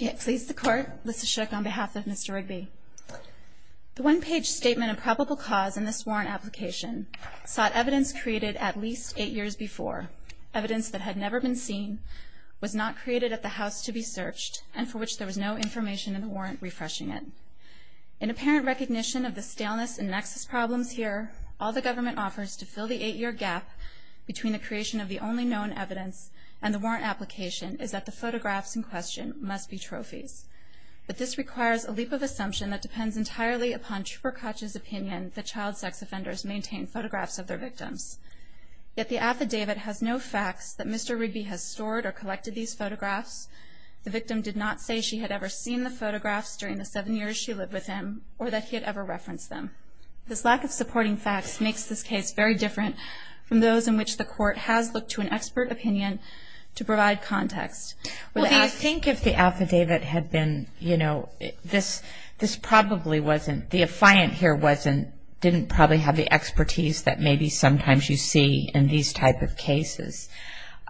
It pleases the court, Lissa Shook on behalf of Mr. Rigby. The one-page statement of probable cause in this warrant application sought evidence created at least eight years before, evidence that had never been seen, was not created at the house to be searched, and for which there was no information in the warrant refreshing it. In apparent recognition of the staleness and nexus problems here, all the government offers to fill the eight-year gap between the creation of the only known evidence and the warrant application is that the photographs in question must be trophies. But this requires a leap of assumption that depends entirely upon Trooper Koch's opinion that child sex offenders maintain photographs of their victims. Yet the affidavit has no facts that Mr. Rigby has stored or collected these photographs. The victim did not say she had ever seen the photographs during the seven years she lived with him, or that he had ever referenced them. This lack of supporting facts makes this case very different from those in which the court has looked to an expert opinion to Well, I think if the affidavit had been, you know, this probably wasn't, the affiant here wasn't, didn't probably have the expertise that maybe sometimes you see in these type of cases.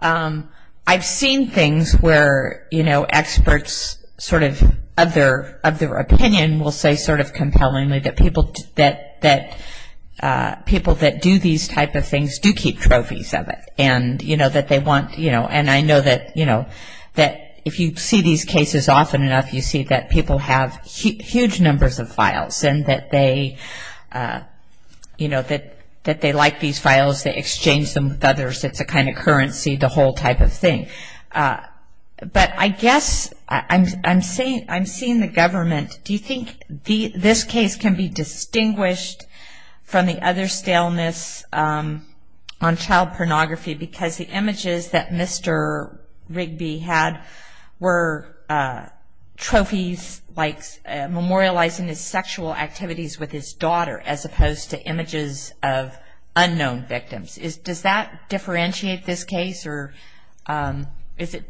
I've seen things where, you know, experts sort of of their opinion will say sort of compellingly that people that people that do these type of things do keep trophies of it, and you know that they want, you know, and I know that, you know, that if you see these cases often enough you see that people have huge numbers of files and that they, you know, that they like these files, they exchange them with others, it's a kind of currency, the whole type of thing. But I guess I'm seeing the government, do you think this case can be distinguished from the other on child pornography because the images that Mr. Rigby had were trophies like memorializing his sexual activities with his daughter as opposed to images of unknown victims. Does that differentiate this case or is it,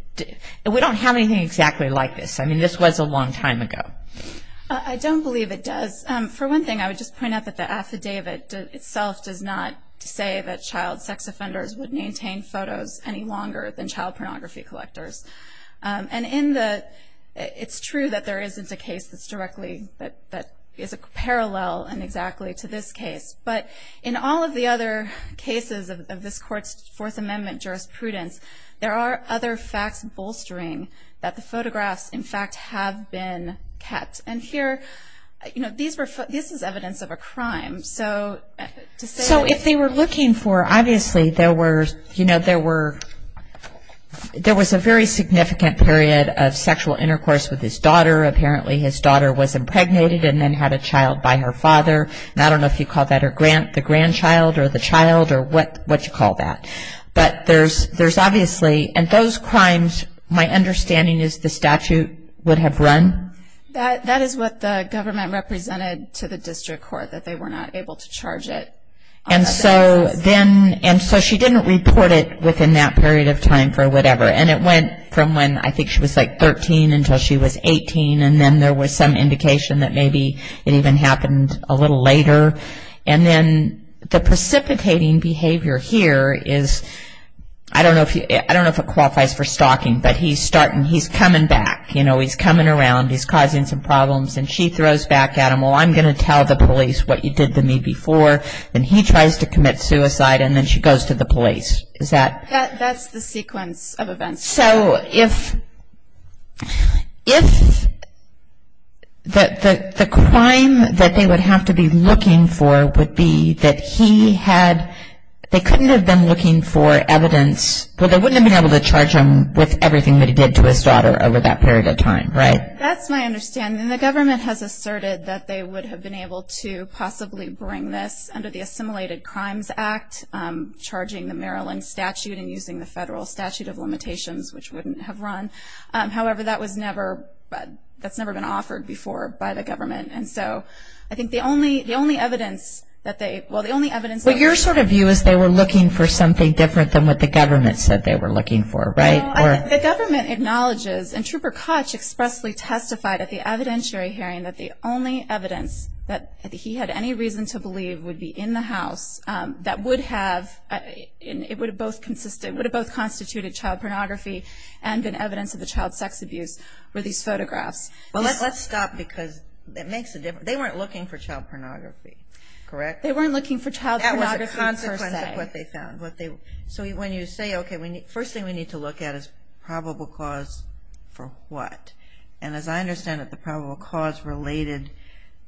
we don't have anything exactly like this, I mean this was a long time ago. I don't believe it does. For one thing I would just point out that the affidavit itself does not say that child sex offenders would maintain photos any longer than child pornography collectors. And in the, it's true that there isn't a case that's directly, that is a parallel and exactly to this case, but in all of the other cases of this court's Fourth Amendment jurisprudence there are other facts bolstering that the photographs in fact have been kept. And here, you know, these were, this is evidence of a crime. So if they were looking for, obviously there were, you know, there were, there was a very significant period of sexual intercourse with his daughter. Apparently his daughter was impregnated and then had a child by her father. I don't know if you call that her grand, the grandchild or the child or what, what you call that. But there's, there's obviously, and those crimes, my understanding is the statute would have run. That is what the represented to the district court, that they were not able to charge it. And so then, and so she didn't report it within that period of time for whatever. And it went from when I think she was like 13 until she was 18. And then there was some indication that maybe it even happened a little later. And then the precipitating behavior here is, I don't know if you, I don't know if it qualifies for stalking, but he's starting, he's coming back, you know, he's coming around, he's causing some problems. And she throws back at him, well I'm going to tell the police what you did to me before. And he tries to commit suicide and then she goes to the police. Is that? That, that's the sequence of events. So if, if the, the crime that they would have to be looking for would be that he had, they couldn't have been looking for evidence, but they wouldn't have been able to charge him with everything that he did to his daughter over that period of time, right? That's my understanding. The government has asserted that they would have been able to possibly bring this under the Assimilated Crimes Act, charging the Maryland statute and using the federal statute of limitations, which wouldn't have run. However, that was never, that's never been offered before by the government. And so I think the only, the only evidence that they, well the only evidence that... But your sort of view is they were looking for something different than what the government said they were looking for, right? The government acknowledges, and Trooper Koch expressly testified at the evidentiary hearing that the only evidence that he had any reason to believe would be in the house that would have, it would have both consisted, would have both constituted child pornography and been evidence of the child sex abuse were these photographs. Well, let's stop because that makes a difference. They weren't looking for child pornography, correct? They weren't looking for child pornography per se. That was a consequence of what they found. So when you say, okay, first thing we need to look at is probable cause for what? And as I understand it, the probable cause related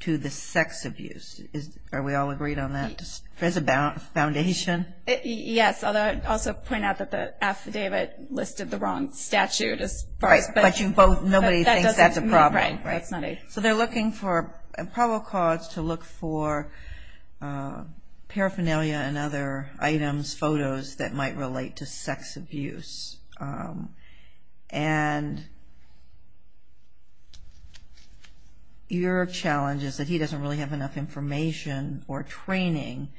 to the sex abuse. Are we all agreed on that? There's a foundation? Yes, although I'd also point out that the affidavit listed the wrong statute as far as... Right, but you both, nobody thinks that's a problem, right? Right, that's not a... So they're looking for probable cause to look for paraphernalia and other items, photos that might relate to sex abuse. And your challenge is that he doesn't really have enough information or training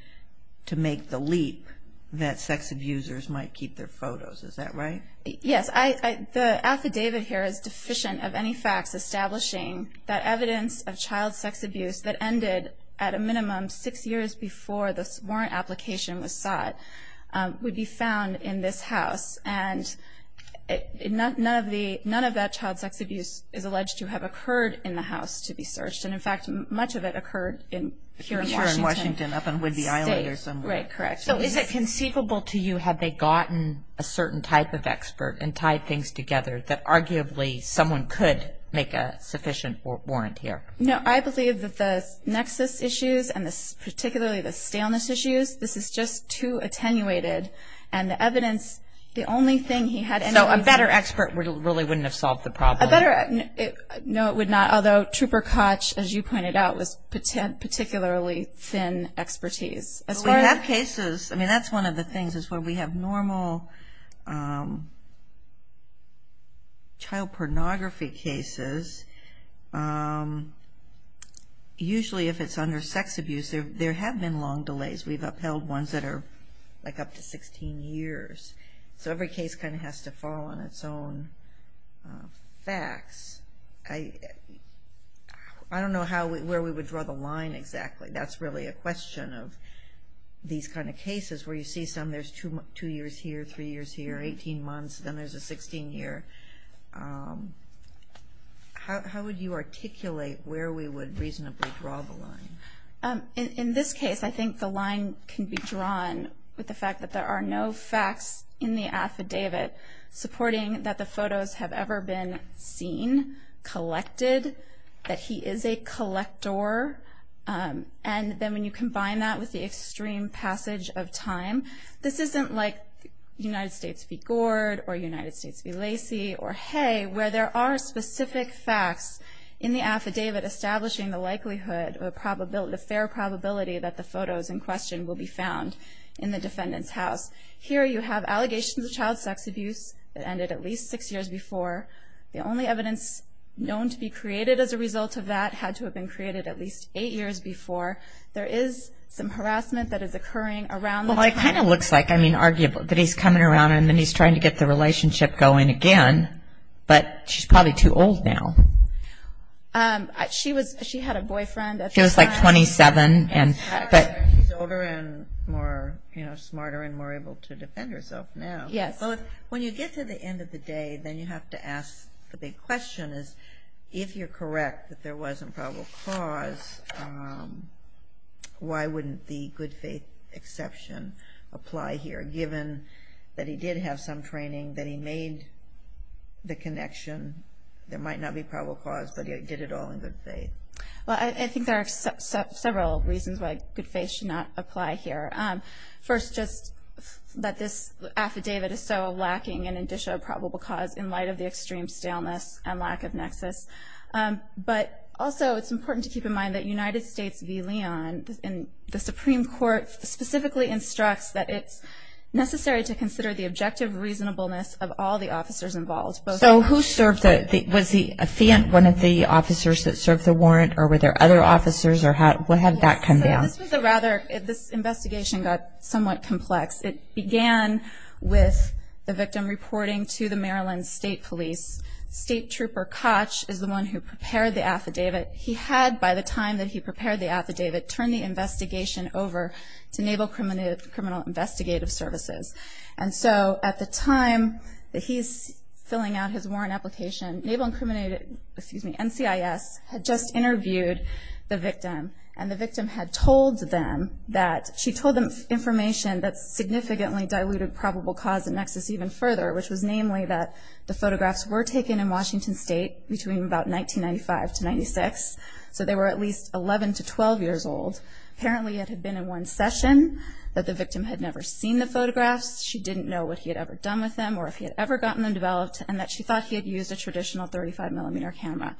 to make the leap that sex abusers might keep their photos. Is that right? Yes, the affidavit here is deficient of any facts establishing that evidence of child sex abuse that ended at a minimum six years before this warrant application was sought, would be found in this house. And none of that child sex abuse is alleged to have occurred in the house to be searched. And in fact, much of it occurred here in Washington State. Here in Washington, up on Whidbey Island or somewhere. Right, correct. So is it conceivable to you, had they gotten a certain type of expert and tied things together, that arguably someone could make a sufficient warrant here? No, I believe that the nexus issues, and particularly the staleness issues, this is just too attenuated. And the evidence, the only thing he had... So a better expert really wouldn't have solved the problem? A better... No, it would not. Although Trooper Koch, as you pointed out, was particularly thin expertise. We have cases, I mean that's one of the things, is where we have normal child pornography cases, usually if it's under sex abuse, there have been long delays. We've upheld ones that are like up to 16 years. So every case kind of has to fall on its own facts. I don't know where we would draw the line exactly. That's really a question of these kind of cases where you see some, there's two years here, three years here, 18 months, then there's a 16 year. How would you articulate where we would reasonably draw the line? In this case, I think the line can be drawn with the fact that there are no facts in the affidavit supporting that the photos have ever been seen, collected, that he is a collector. And then when you combine that with the extreme passage of time, this isn't like United States v. Gord or United States v. Lacey or Hay, where there are specific facts in the affidavit establishing the likelihood, the fair probability that the photos in question will be found in the defendant's house. Here you have allegations of child sex abuse that ended at least six years before. The only evidence known to be created as a result of that had to have been created at least eight years before. There is some harassment that is occurring around the time. Well, it kind of looks like, I mean, arguable, that he's coming around and then he's trying to get the relationship going again, but she's probably too old now. She was, she had a boyfriend at the time. She was like 27. She's older and more, you know, smarter and more able to defend herself now. Yes. When you get to the end of the day, then you have to ask the big question is, if you're faith exception apply here, given that he did have some training, that he made the connection, there might not be probable cause, but he did it all in good faith. Well, I think there are several reasons why good faith should not apply here. First, just that this affidavit is so lacking in indicia of probable cause in light of the extreme staleness and lack of nexus. But also, it's important to keep in mind that United States v. Leon, and the Supreme Court specifically instructs that it's necessary to consider the objective reasonableness of all the officers involved. So who served the, was he a Fiat, one of the officers that served the warrant or were there other officers or how, what had that come down? So this was a rather, this investigation got somewhat complex. It began with the victim reporting to the Maryland State Police. State Trooper Koch is the one who prepared the affidavit. He had, by the time that he prepared the affidavit, turned the investigation over to Naval Criminal Investigative Services. And so, at the time that he's filling out his warrant application, Naval Incriminated, excuse me, NCIS had just interviewed the victim. And the victim had told them that, she told them information that significantly diluted probable cause and nexus even further, which was namely that the photographs were taken in Washington State between about 1995 to 96. So they were at least 11 to 12 years old. Apparently, it had been in one session that the victim had never seen the photographs. She didn't know what he had ever done with them or if he had ever gotten them developed and that she thought he had used a traditional 35 millimeter camera.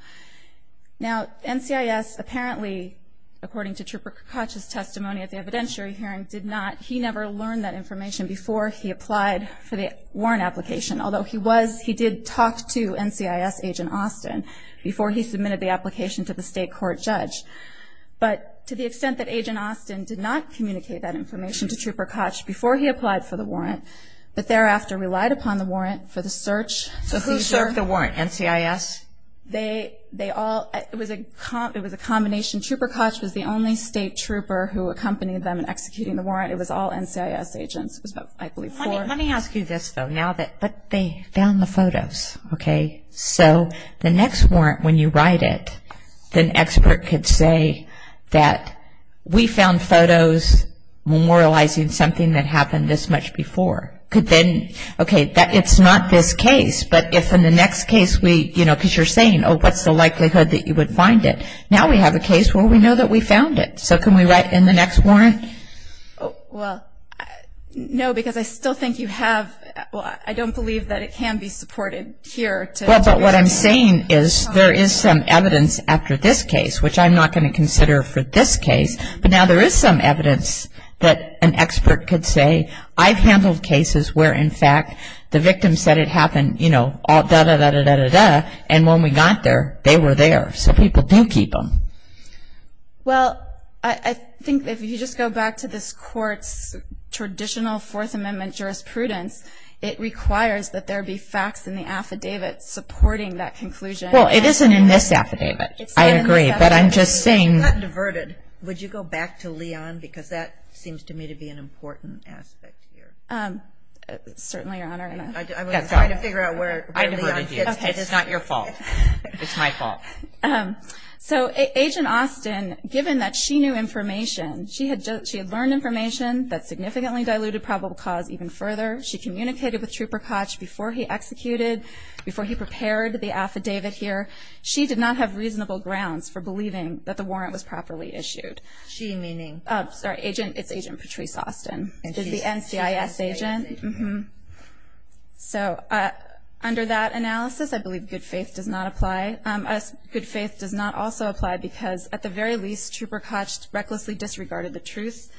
Now, NCIS apparently, according to Trooper Koch's testimony at the evidentiary hearing, did not, he never learned that information before he applied for the warrant application. Although he was, he did talk to NCIS Agent Austin before he submitted the application to the state court judge. But to the extent that Agent Austin did not communicate that information to Trooper Koch before he applied for the warrant, but thereafter relied upon the warrant for the search. So who served the warrant, NCIS? They all, it was a combination. Trooper Koch was the only state trooper who accompanied them in executing the warrant. It was about, I believe, four. Let me ask you this, though, now that, but they found the photos, okay? So the next warrant, when you write it, the expert could say that we found photos memorializing something that happened this much before. Could then, okay, it's not this case, but if in the next case we, you know, because you're saying, oh, what's the likelihood that you would find it? Now we have a case where we know that we found it. So can we write in the next warrant? Well, no, because I still think you have, well, I don't believe that it can be supported here to. But what I'm saying is there is some evidence after this case, which I'm not going to consider for this case. But now there is some evidence that an expert could say, I've handled cases where, in fact, the victim said it happened, you know, dah, dah, dah, dah, dah, dah, dah, dah, and when we got there, they were there. So people do keep them. Well, I think if you just go back to this Court's traditional Fourth Amendment jurisprudence, it requires that there be facts in the affidavit supporting that conclusion. Well, it isn't in this affidavit. I agree. But I'm just saying. If you had gotten diverted, would you go back to Leon? Because that seems to me to be an important aspect here. Certainly, Your Honor. I was trying to figure out where Leon is. I diverted you. It's not your fault. It's my fault. Okay. So Agent Austin, given that she knew information, she had learned information that significantly diluted probable cause even further. She communicated with Trooper Koch before he executed, before he prepared the affidavit here. She did not have reasonable grounds for believing that the warrant was properly issued. She meaning? Sorry. Agent. It's Agent Patrice Austin. She's the NCIS agent? She's the NCIS agent. Mm-hmm. So under that analysis, I believe good faith does not apply. Good faith does not also apply because at the very least, Trooper Koch recklessly disregarded the truth.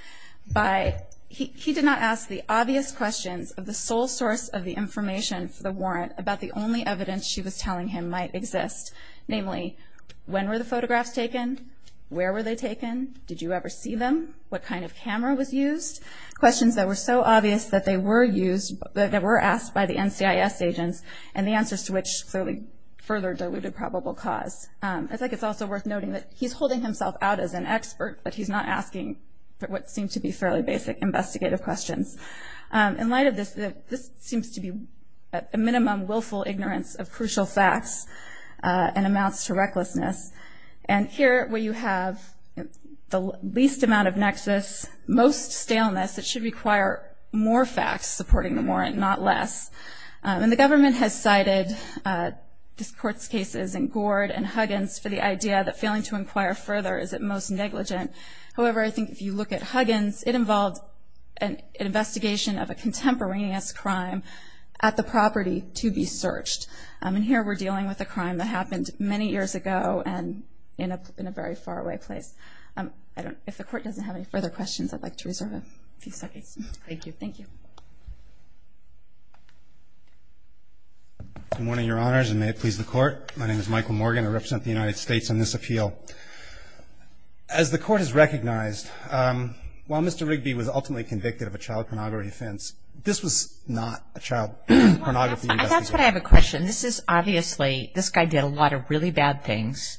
He did not ask the obvious questions of the sole source of the information for the warrant about the only evidence she was telling him might exist, namely, when were the photographs taken? Where were they taken? Did you ever see them? What kind of camera was used? Questions that were so obvious that they were used, that were asked by the NCIS agents, and the answers to which clearly further diluted probable cause. I think it's also worth noting that he's holding himself out as an expert, but he's not asking what seem to be fairly basic investigative questions. In light of this, this seems to be a minimum willful ignorance of crucial facts and amounts to recklessness. And here, where you have the least amount of nexus, most staleness, it should require more facts supporting the warrant, not less. And the government has cited this court's cases in Gord and Huggins for the idea that failing to inquire further is at most negligent. However, I think if you look at Huggins, it involved an investigation of a contemporaneous crime at the property to be searched. And here, we're dealing with a crime that happened many years ago and in a very faraway place. If the court doesn't have any further questions, I'd like to reserve a few seconds. Thank you. Thank you. Good morning, Your Honors, and may it please the court. My name is Michael Morgan. I represent the United States on this appeal. As the court has recognized, while Mr. Rigby was ultimately convicted of a child pornography offense, this was not a child pornography investigation. First, I have a question. This is obviously, this guy did a lot of really bad things,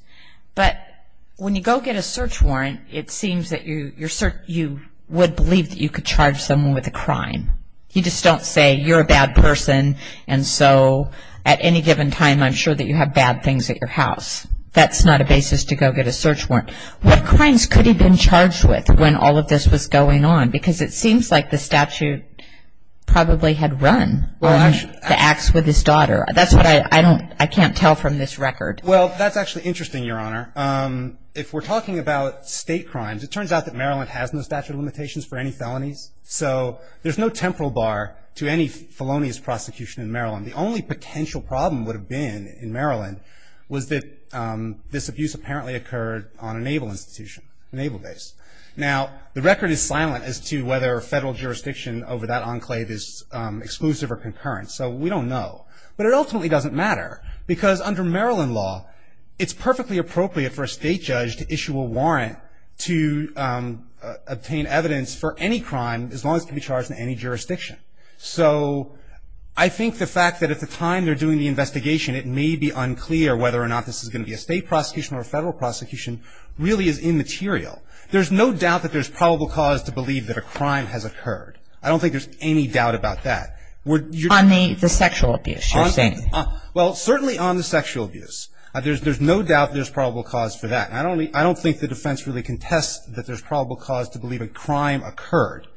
but when you go get a search warrant, it seems that you would believe that you could charge someone with a crime. You just don't say, you're a bad person, and so at any given time, I'm sure that you have bad things at your house. That's not a basis to go get a search warrant. What crimes could he have been charged with when all of this was going on? Because it seems like the statute probably had run the acts with his daughter. That's what I don't, I can't tell from this record. Well, that's actually interesting, Your Honor. If we're talking about state crimes, it turns out that Maryland has no statute of limitations for any felonies, so there's no temporal bar to any felonious prosecution in Maryland. The only potential problem would have been in Maryland was that this abuse apparently occurred on a naval institution, a naval base. Now, the record is silent as to whether federal jurisdiction over that enclave is exclusive or concurrent, so we don't know, but it ultimately doesn't matter because under Maryland law, it's perfectly appropriate for a state judge to issue a warrant to obtain evidence for any crime as long as it can be charged in any jurisdiction. So I think the fact that at the time they're doing the investigation, it may be unclear whether or not this is going to be a state prosecution or a federal prosecution really is immaterial. There's no doubt that there's probable cause to believe that a crime has occurred. I don't think there's any doubt about that. On the sexual abuse, you're saying? Well, certainly on the sexual abuse. There's no doubt there's probable cause for that. I don't think the defense really contests that there's probable cause to believe a crime occurred.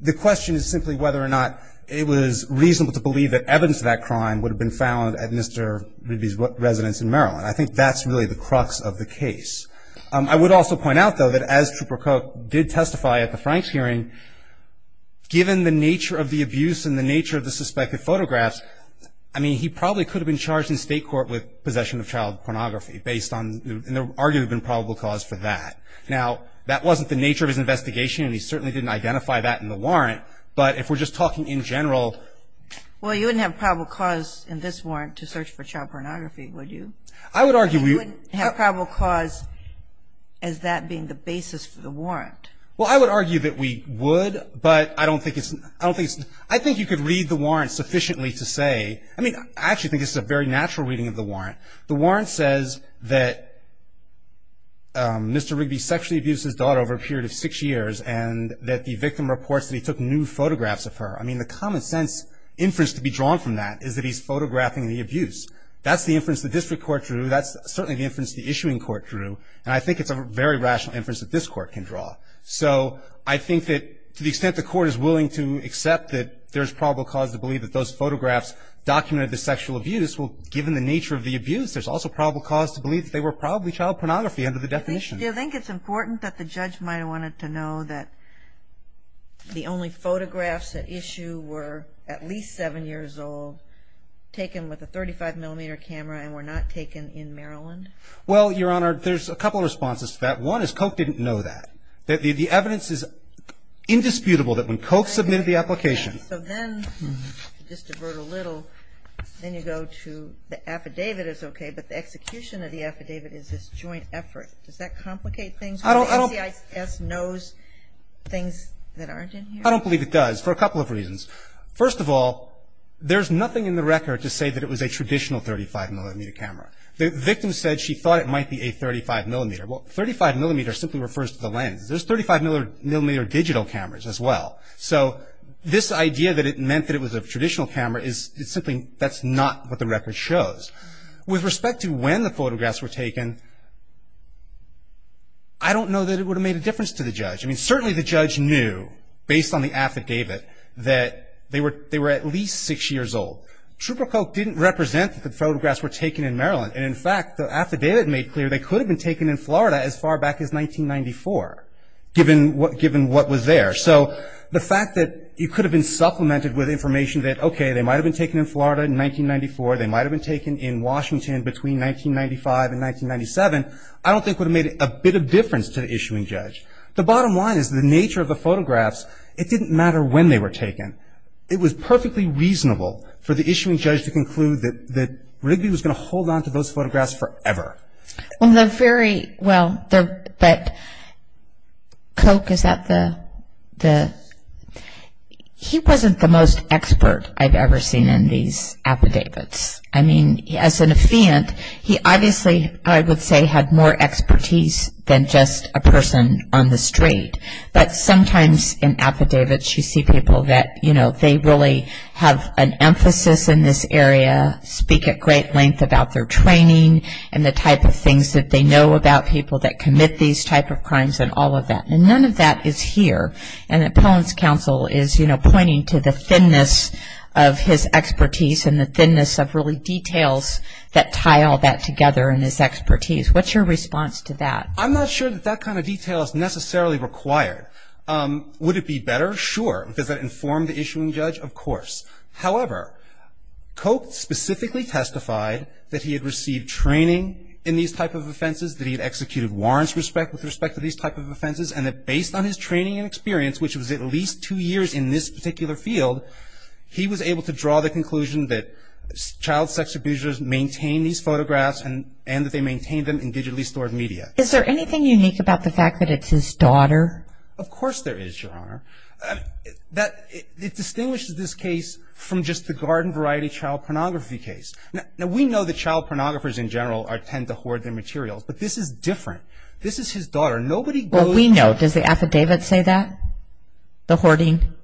The question is simply whether or not it was reasonable to believe that evidence of that crime would have been found at Mr. Ridby's residence in Maryland. I think that's really the crux of the case. I would also point out, though, that as Trooper Cook did testify at the Franks hearing, given the nature of the abuse and the nature of the suspected photographs, I mean, he probably could have been charged in state court with possession of child pornography based on, and there would arguably have been probable cause for that. Now, that wasn't the nature of his investigation, and he certainly didn't identify that in the warrant. But if we're just talking in general. Well, you wouldn't have probable cause in this warrant to search for child pornography, would you? I would argue we would. You wouldn't have probable cause as that being the basis for the warrant. Well, I would argue that we would, but I don't think it's, I don't think it's, I think you could read the warrant sufficiently to say, I mean, I actually think this is a very natural reading of the warrant. The warrant says that Mr. Ridby sexually abused his daughter over a period of six years and that the victim reports that he took new photographs of her. I mean, the common sense inference to be drawn from that is that he's photographing the abuse. That's the inference the district court drew. That's certainly the inference the issuing court drew, and I think it's a very rational inference that this court can draw. So I think that to the extent the court is willing to accept that there's probable cause to believe that those photographs documented the sexual abuse, well, given the nature of the abuse, there's also probable cause to believe that they were probably child pornography under the definition. Do you think it's important that the judge might have wanted to know that the only photographs at issue were at least seven years old, taken with a 35 millimeter camera and were not taken in Maryland? Well, Your Honor, there's a couple of responses to that. One is Koch didn't know that. The evidence is indisputable that when Koch submitted the application. So then, just to divert a little, then you go to the affidavit is okay, but the execution of the affidavit is this joint effort. Does that complicate things? I don't believe it does for a couple of reasons. First of all, there's nothing in the record to say that it was a traditional 35 millimeter camera. The victim said she thought it might be a 35 millimeter. Well, 35 millimeter simply refers to the lens. There's 35 millimeter digital cameras as well. So this idea that it meant that it was a traditional camera is simply, that's not what the record shows. With respect to when the photographs were taken, I don't know that it would have made a difference to the judge. I mean, certainly the judge knew, based on the affidavit, that they were at least six years old. Trooper Koch didn't represent that the photographs were taken in Maryland. And in fact, the affidavit made clear they could have been taken in Florida as far back as 1994, given what was there. So the fact that it could have been supplemented with information that, okay, they might have been taken in Florida in 1994, they might have been taken in Washington between 1995 and 1997, I don't think would have made a bit of difference to the issuing judge. The bottom line is the nature of the photographs, it didn't matter when they were taken. It was perfectly reasonable for the issuing judge to conclude that Rigby was going to hold on to those photographs forever. Well, they're very, well, they're, but Koch, is that the, the, he wasn't the most expert I've ever seen in these affidavits. I mean, as an affiant, he obviously, I would say, had more expertise than just a person on the street. But sometimes in affidavits, you see people that, you know, they really have an emphasis in this area, speak at great length about their training, and the type of things that they know about people that commit these type of crimes, and all of that. And none of that is here. And that Poehn's counsel is, you know, pointing to the thinness of his expertise and the thinness of really details that tie all that together in his expertise. What's your response to that? I'm not sure that that kind of detail is necessarily required. Would it be better? Sure. Does that inform the issuing judge? Of course. However, Koch specifically testified that he had received training in these type of offenses, that he had executed warrants respect, with respect to these type of offenses, and that based on his training and experience, which was at least two years in this particular field, he was able to draw the conclusion that child sex abusers maintain these photographs, and that they maintain them in digitally stored media. Is there anything unique about the fact that it's his daughter? Of course there is, Your Honor. That it distinguishes this case from just the garden variety child pornography case. Now, we know that child pornographers in general tend to hoard their materials, but this is different. This is his daughter. Nobody goes- Well, we know. Does the affidavit say that? The hoarding?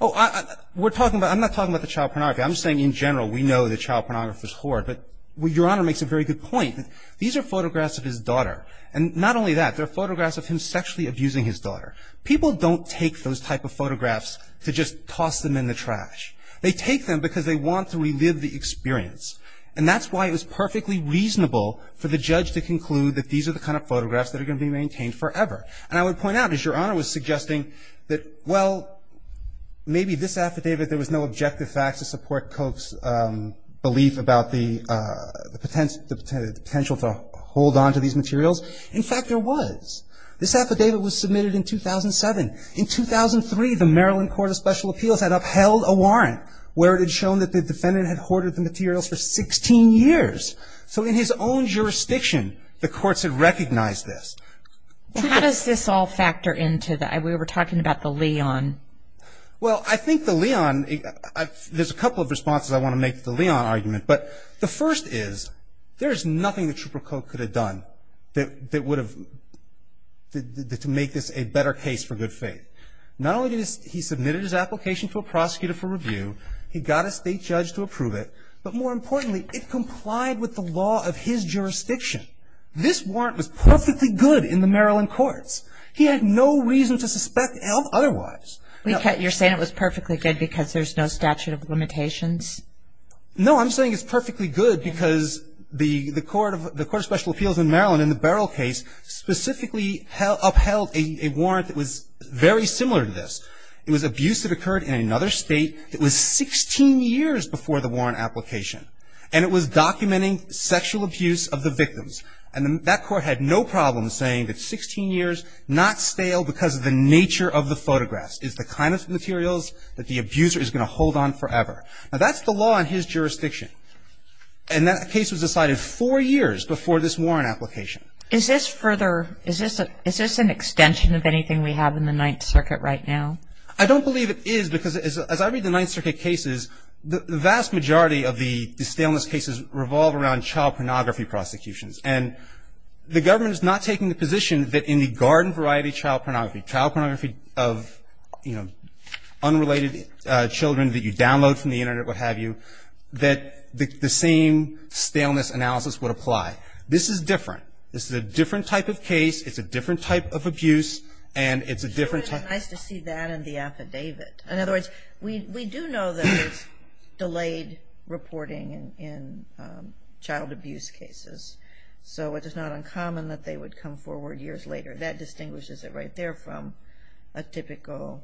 Oh, we're talking about, I'm not talking about the child pornography. I'm saying in general, we know that child pornography is hoard, but Your Honor makes a very good point. These are photographs of his daughter. And not only that, they're photographs of him sexually abusing his daughter. People don't take those type of photographs to just toss them in the trash. They take them because they want to relive the experience. And that's why it was perfectly reasonable for the judge to conclude that these are the kind of photographs that are going to be maintained forever. And I would point out, as Your Honor was suggesting, that, well, maybe this affidavit, there was no objective facts to support Koch's belief about the potential to hold onto these materials. In fact, there was. This affidavit was submitted in 2007. In 2003, the Maryland Court of Special Appeals had upheld a warrant where it had shown that the defendant had hoarded the materials for 16 years. So, in his own jurisdiction, the courts had recognized this. How does this all factor into the, we were talking about the Leon? Well, I think the Leon, there's a couple of responses I want to make to the Leon argument, but the first is, there is nothing that Trooper Koch could have done that would have, to make this a better case for good faith. Not only did he submit his application to a prosecutor for review, he got a state judge to approve it, but more importantly, it complied with the law of his jurisdiction. This warrant was perfectly good in the Maryland courts. He had no reason to suspect otherwise. You're saying it was perfectly good because there's no statute of limitations? No, I'm saying it's perfectly good because the Court of Special Appeals in Maryland, in the Barrell case, specifically upheld a warrant that was very similar to this. It was abuse that occurred in another state that was 16 years before the warrant application, and it was documenting sexual abuse of the victims. And that court had no problem saying that 16 years, not stale because of the nature of the photographs, is the kind of materials that the abuser is going to hold on forever. Now, that's the law in his jurisdiction, and that case was decided four years before this warrant application. Is this further, is this an extension of anything we have in the Ninth Circuit right now? I don't believe it is, because as I read the Ninth Circuit cases, the vast majority of the staleness cases revolve around child pornography prosecutions, and the government is not taking the position that in the garden variety child pornography, child pornography of, you know, unrelated children that you download from the Internet, what have you, that the same staleness analysis would apply. This is different. This is a different type of case, it's a different type of abuse, and it's a different type of... It would be nice to see that in the affidavit. In other words, we do know that there's delayed reporting in child abuse cases, so it is not uncommon that they would come forward years later. That distinguishes it right there from a typical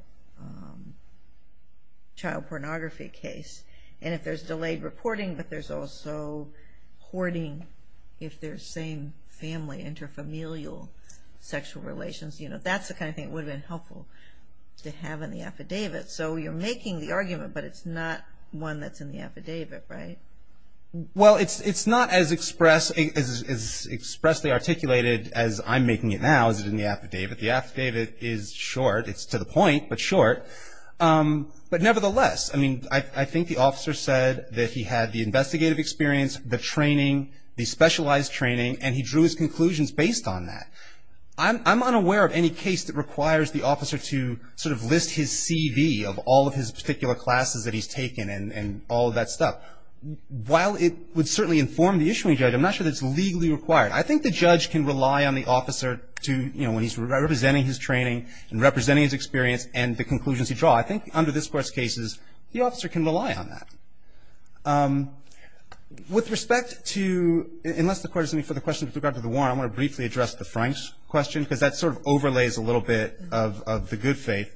child pornography case. And if there's delayed reporting, but there's also hoarding if they're same family, inter-familial sexual relations, you know, that's the kind of thing it would have in the affidavit. So you're making the argument, but it's not one that's in the affidavit, right? Well, it's not as expressly articulated as I'm making it now as in the affidavit. The affidavit is short, it's to the point, but short. But nevertheless, I mean, I think the officer said that he had the investigative experience, the training, the specialized training, and he drew his conclusions based on that. I'm unaware of any case that requires the officer to sort of list his CV of all of his particular classes that he's taken and all of that stuff. While it would certainly inform the issuing judge, I'm not sure that's legally required. I think the judge can rely on the officer to, you know, when he's representing his training and representing his experience and the conclusions he draws. I think under this Court's cases, the officer can rely on that. With respect to, unless the Court is going to put the question with regard to the Franks question, because that sort of overlays a little bit of the good faith.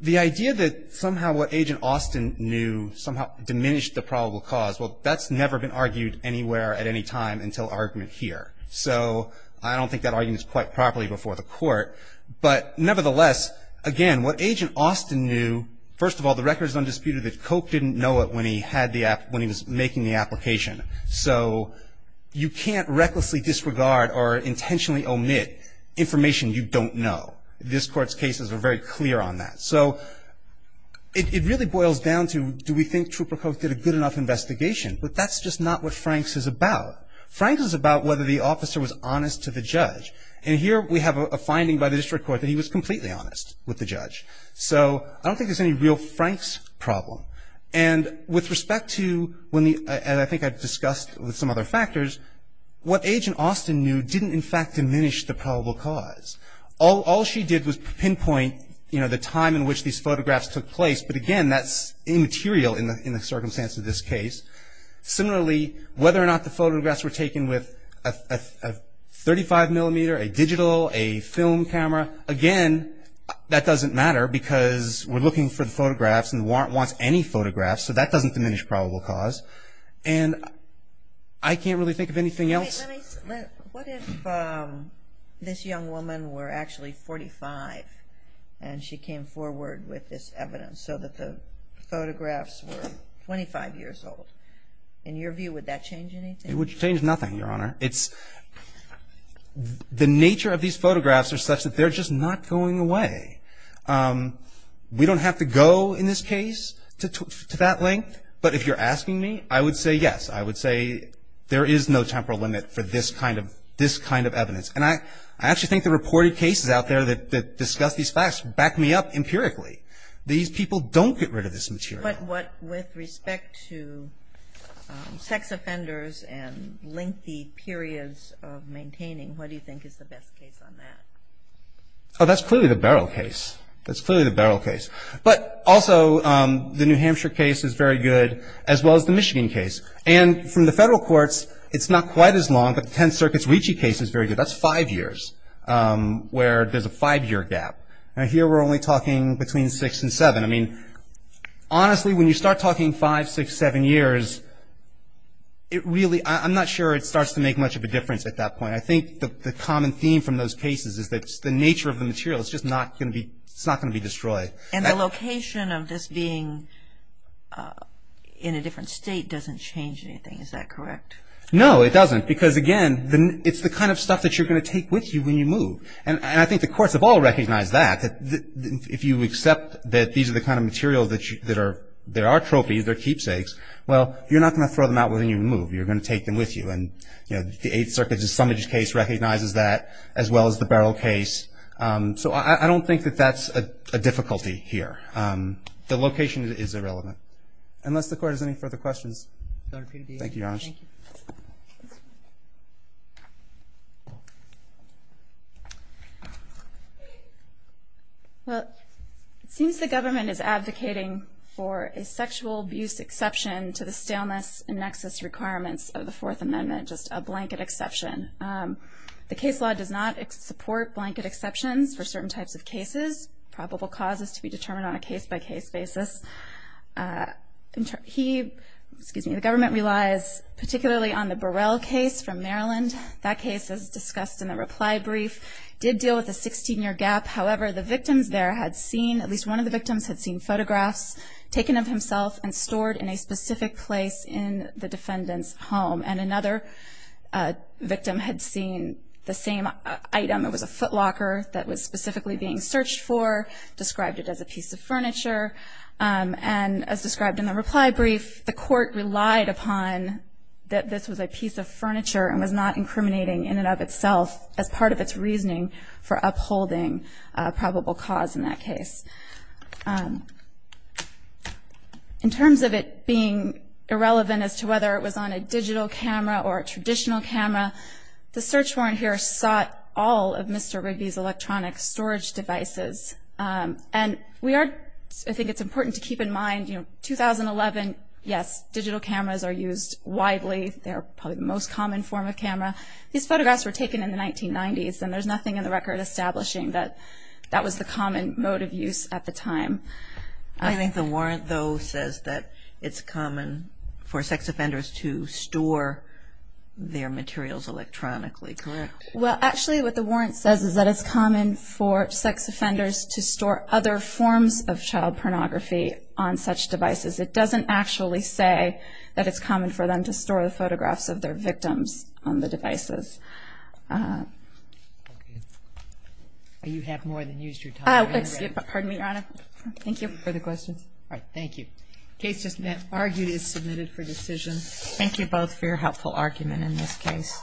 The idea that somehow what Agent Austin knew somehow diminished the probable cause, well, that's never been argued anywhere at any time until argument here. So I don't think that argument's quite properly before the Court. But nevertheless, again, what Agent Austin knew, first of all, the record's undisputed that Cope didn't know it when he was making the application. So you can't recklessly disregard or intentionally omit information you don't know. This Court's cases are very clear on that. So it really boils down to, do we think Trooper Cope did a good enough investigation? But that's just not what Franks is about. Franks is about whether the officer was honest to the judge. And here we have a finding by the district court that he was completely honest with the judge. So I don't think there's any real Franks problem. And with respect to, and I think I've discussed with some other factors, what Agent Austin knew didn't in fact diminish the probable cause. All she did was pinpoint the time in which these photographs took place. But again, that's immaterial in the circumstance of this case. Similarly, whether or not the photographs were taken with a 35 millimeter, a digital, a film camera, again, that doesn't matter. Because we're looking for the photographs and the warrant wants any photographs. So that doesn't diminish probable cause. And I can't really think of anything else. Wait, let me, what if this young woman were actually 45 and she came forward with this evidence so that the photographs were 25 years old? In your view, would that change anything? It would change nothing, Your Honor. It's, the nature of these photographs are such that they're just not going away. We don't have to go in this case to that length. But if you're asking me, I would say yes. I would say there is no temporal limit for this kind of evidence. And I actually think the reported cases out there that discuss these facts back me up empirically. These people don't get rid of this material. But with respect to sex offenders and lengthy periods of maintaining, what do you think is the best case on that? That's clearly the Barrow case. That's clearly the Barrow case. But also, the New Hampshire case is very good, as well as the Michigan case. And from the federal courts, it's not quite as long, but the Tenth Circuit's Ricci case is very good. That's five years, where there's a five year gap. Now here, we're only talking between six and seven. I mean, honestly, when you start talking five, six, seven years, it really, I'm not sure it starts to make much of a difference at that point. I think the common theme from those cases is that it's the nature of the material. It's just not going to be destroyed. And the location of this being in a different state doesn't change anything. Is that correct? No, it doesn't. Because again, it's the kind of stuff that you're going to take with you when you move. And I think the courts have all recognized that. If you accept that these are the kind of materials that are trophies, they're keepsakes, well, you're not going to throw them out when you move. You're going to take them with you. And the Eighth Circuit's Assummage case recognizes that, as well as the Barrow case. So I don't think that that's a difficulty here. The location is irrelevant. Unless the court has any further questions. Thank you, Your Honor. Well, it seems the government is advocating for a sexual abuse exception to the staleness and nexus requirements of the Fourth Amendment. Just a blanket exception. The case law does not support blanket exceptions for certain types of cases. Probable cause is to be determined on a case-by-case basis. He, excuse me, the government relies particularly on the Burrell case from Maryland. That case, as discussed in the reply brief, did deal with a 16-year gap. However, the victims there had seen, at least one of the victims had seen photographs taken of himself and stored in a specific place in the defendant's home. And another victim had seen the same item. It was a footlocker that was specifically being searched for. Described it as a piece of furniture. And as described in the reply brief, the court relied upon that this was a piece of furniture and was not incriminating in and of itself as part of its reasoning for upholding probable cause in that case. In terms of it being irrelevant as to whether it was on a digital camera or a traditional camera, the search warrant here sought all of Mr. Rigby's electronic storage devices. And we are, I think it's important to keep in mind, you know, 2011, yes, digital cameras are used widely. They're probably the most common form of camera. These photographs were taken in the 1990s, and there's nothing in the record establishing that that was the common mode of use at the time. I think the warrant, though, says that it's common for sex offenders to store their materials electronically, correct? Well, actually what the warrant says is that it's common for sex offenders to store other forms of child pornography on such devices. It doesn't actually say that it's common for them to store the photographs of their victims on the devices. You have more than used your time. Pardon me, Your Honor. Thank you. Further questions? All right. Thank you. The case just argued is submitted for decision. Thank you both for your helpful argument in this case.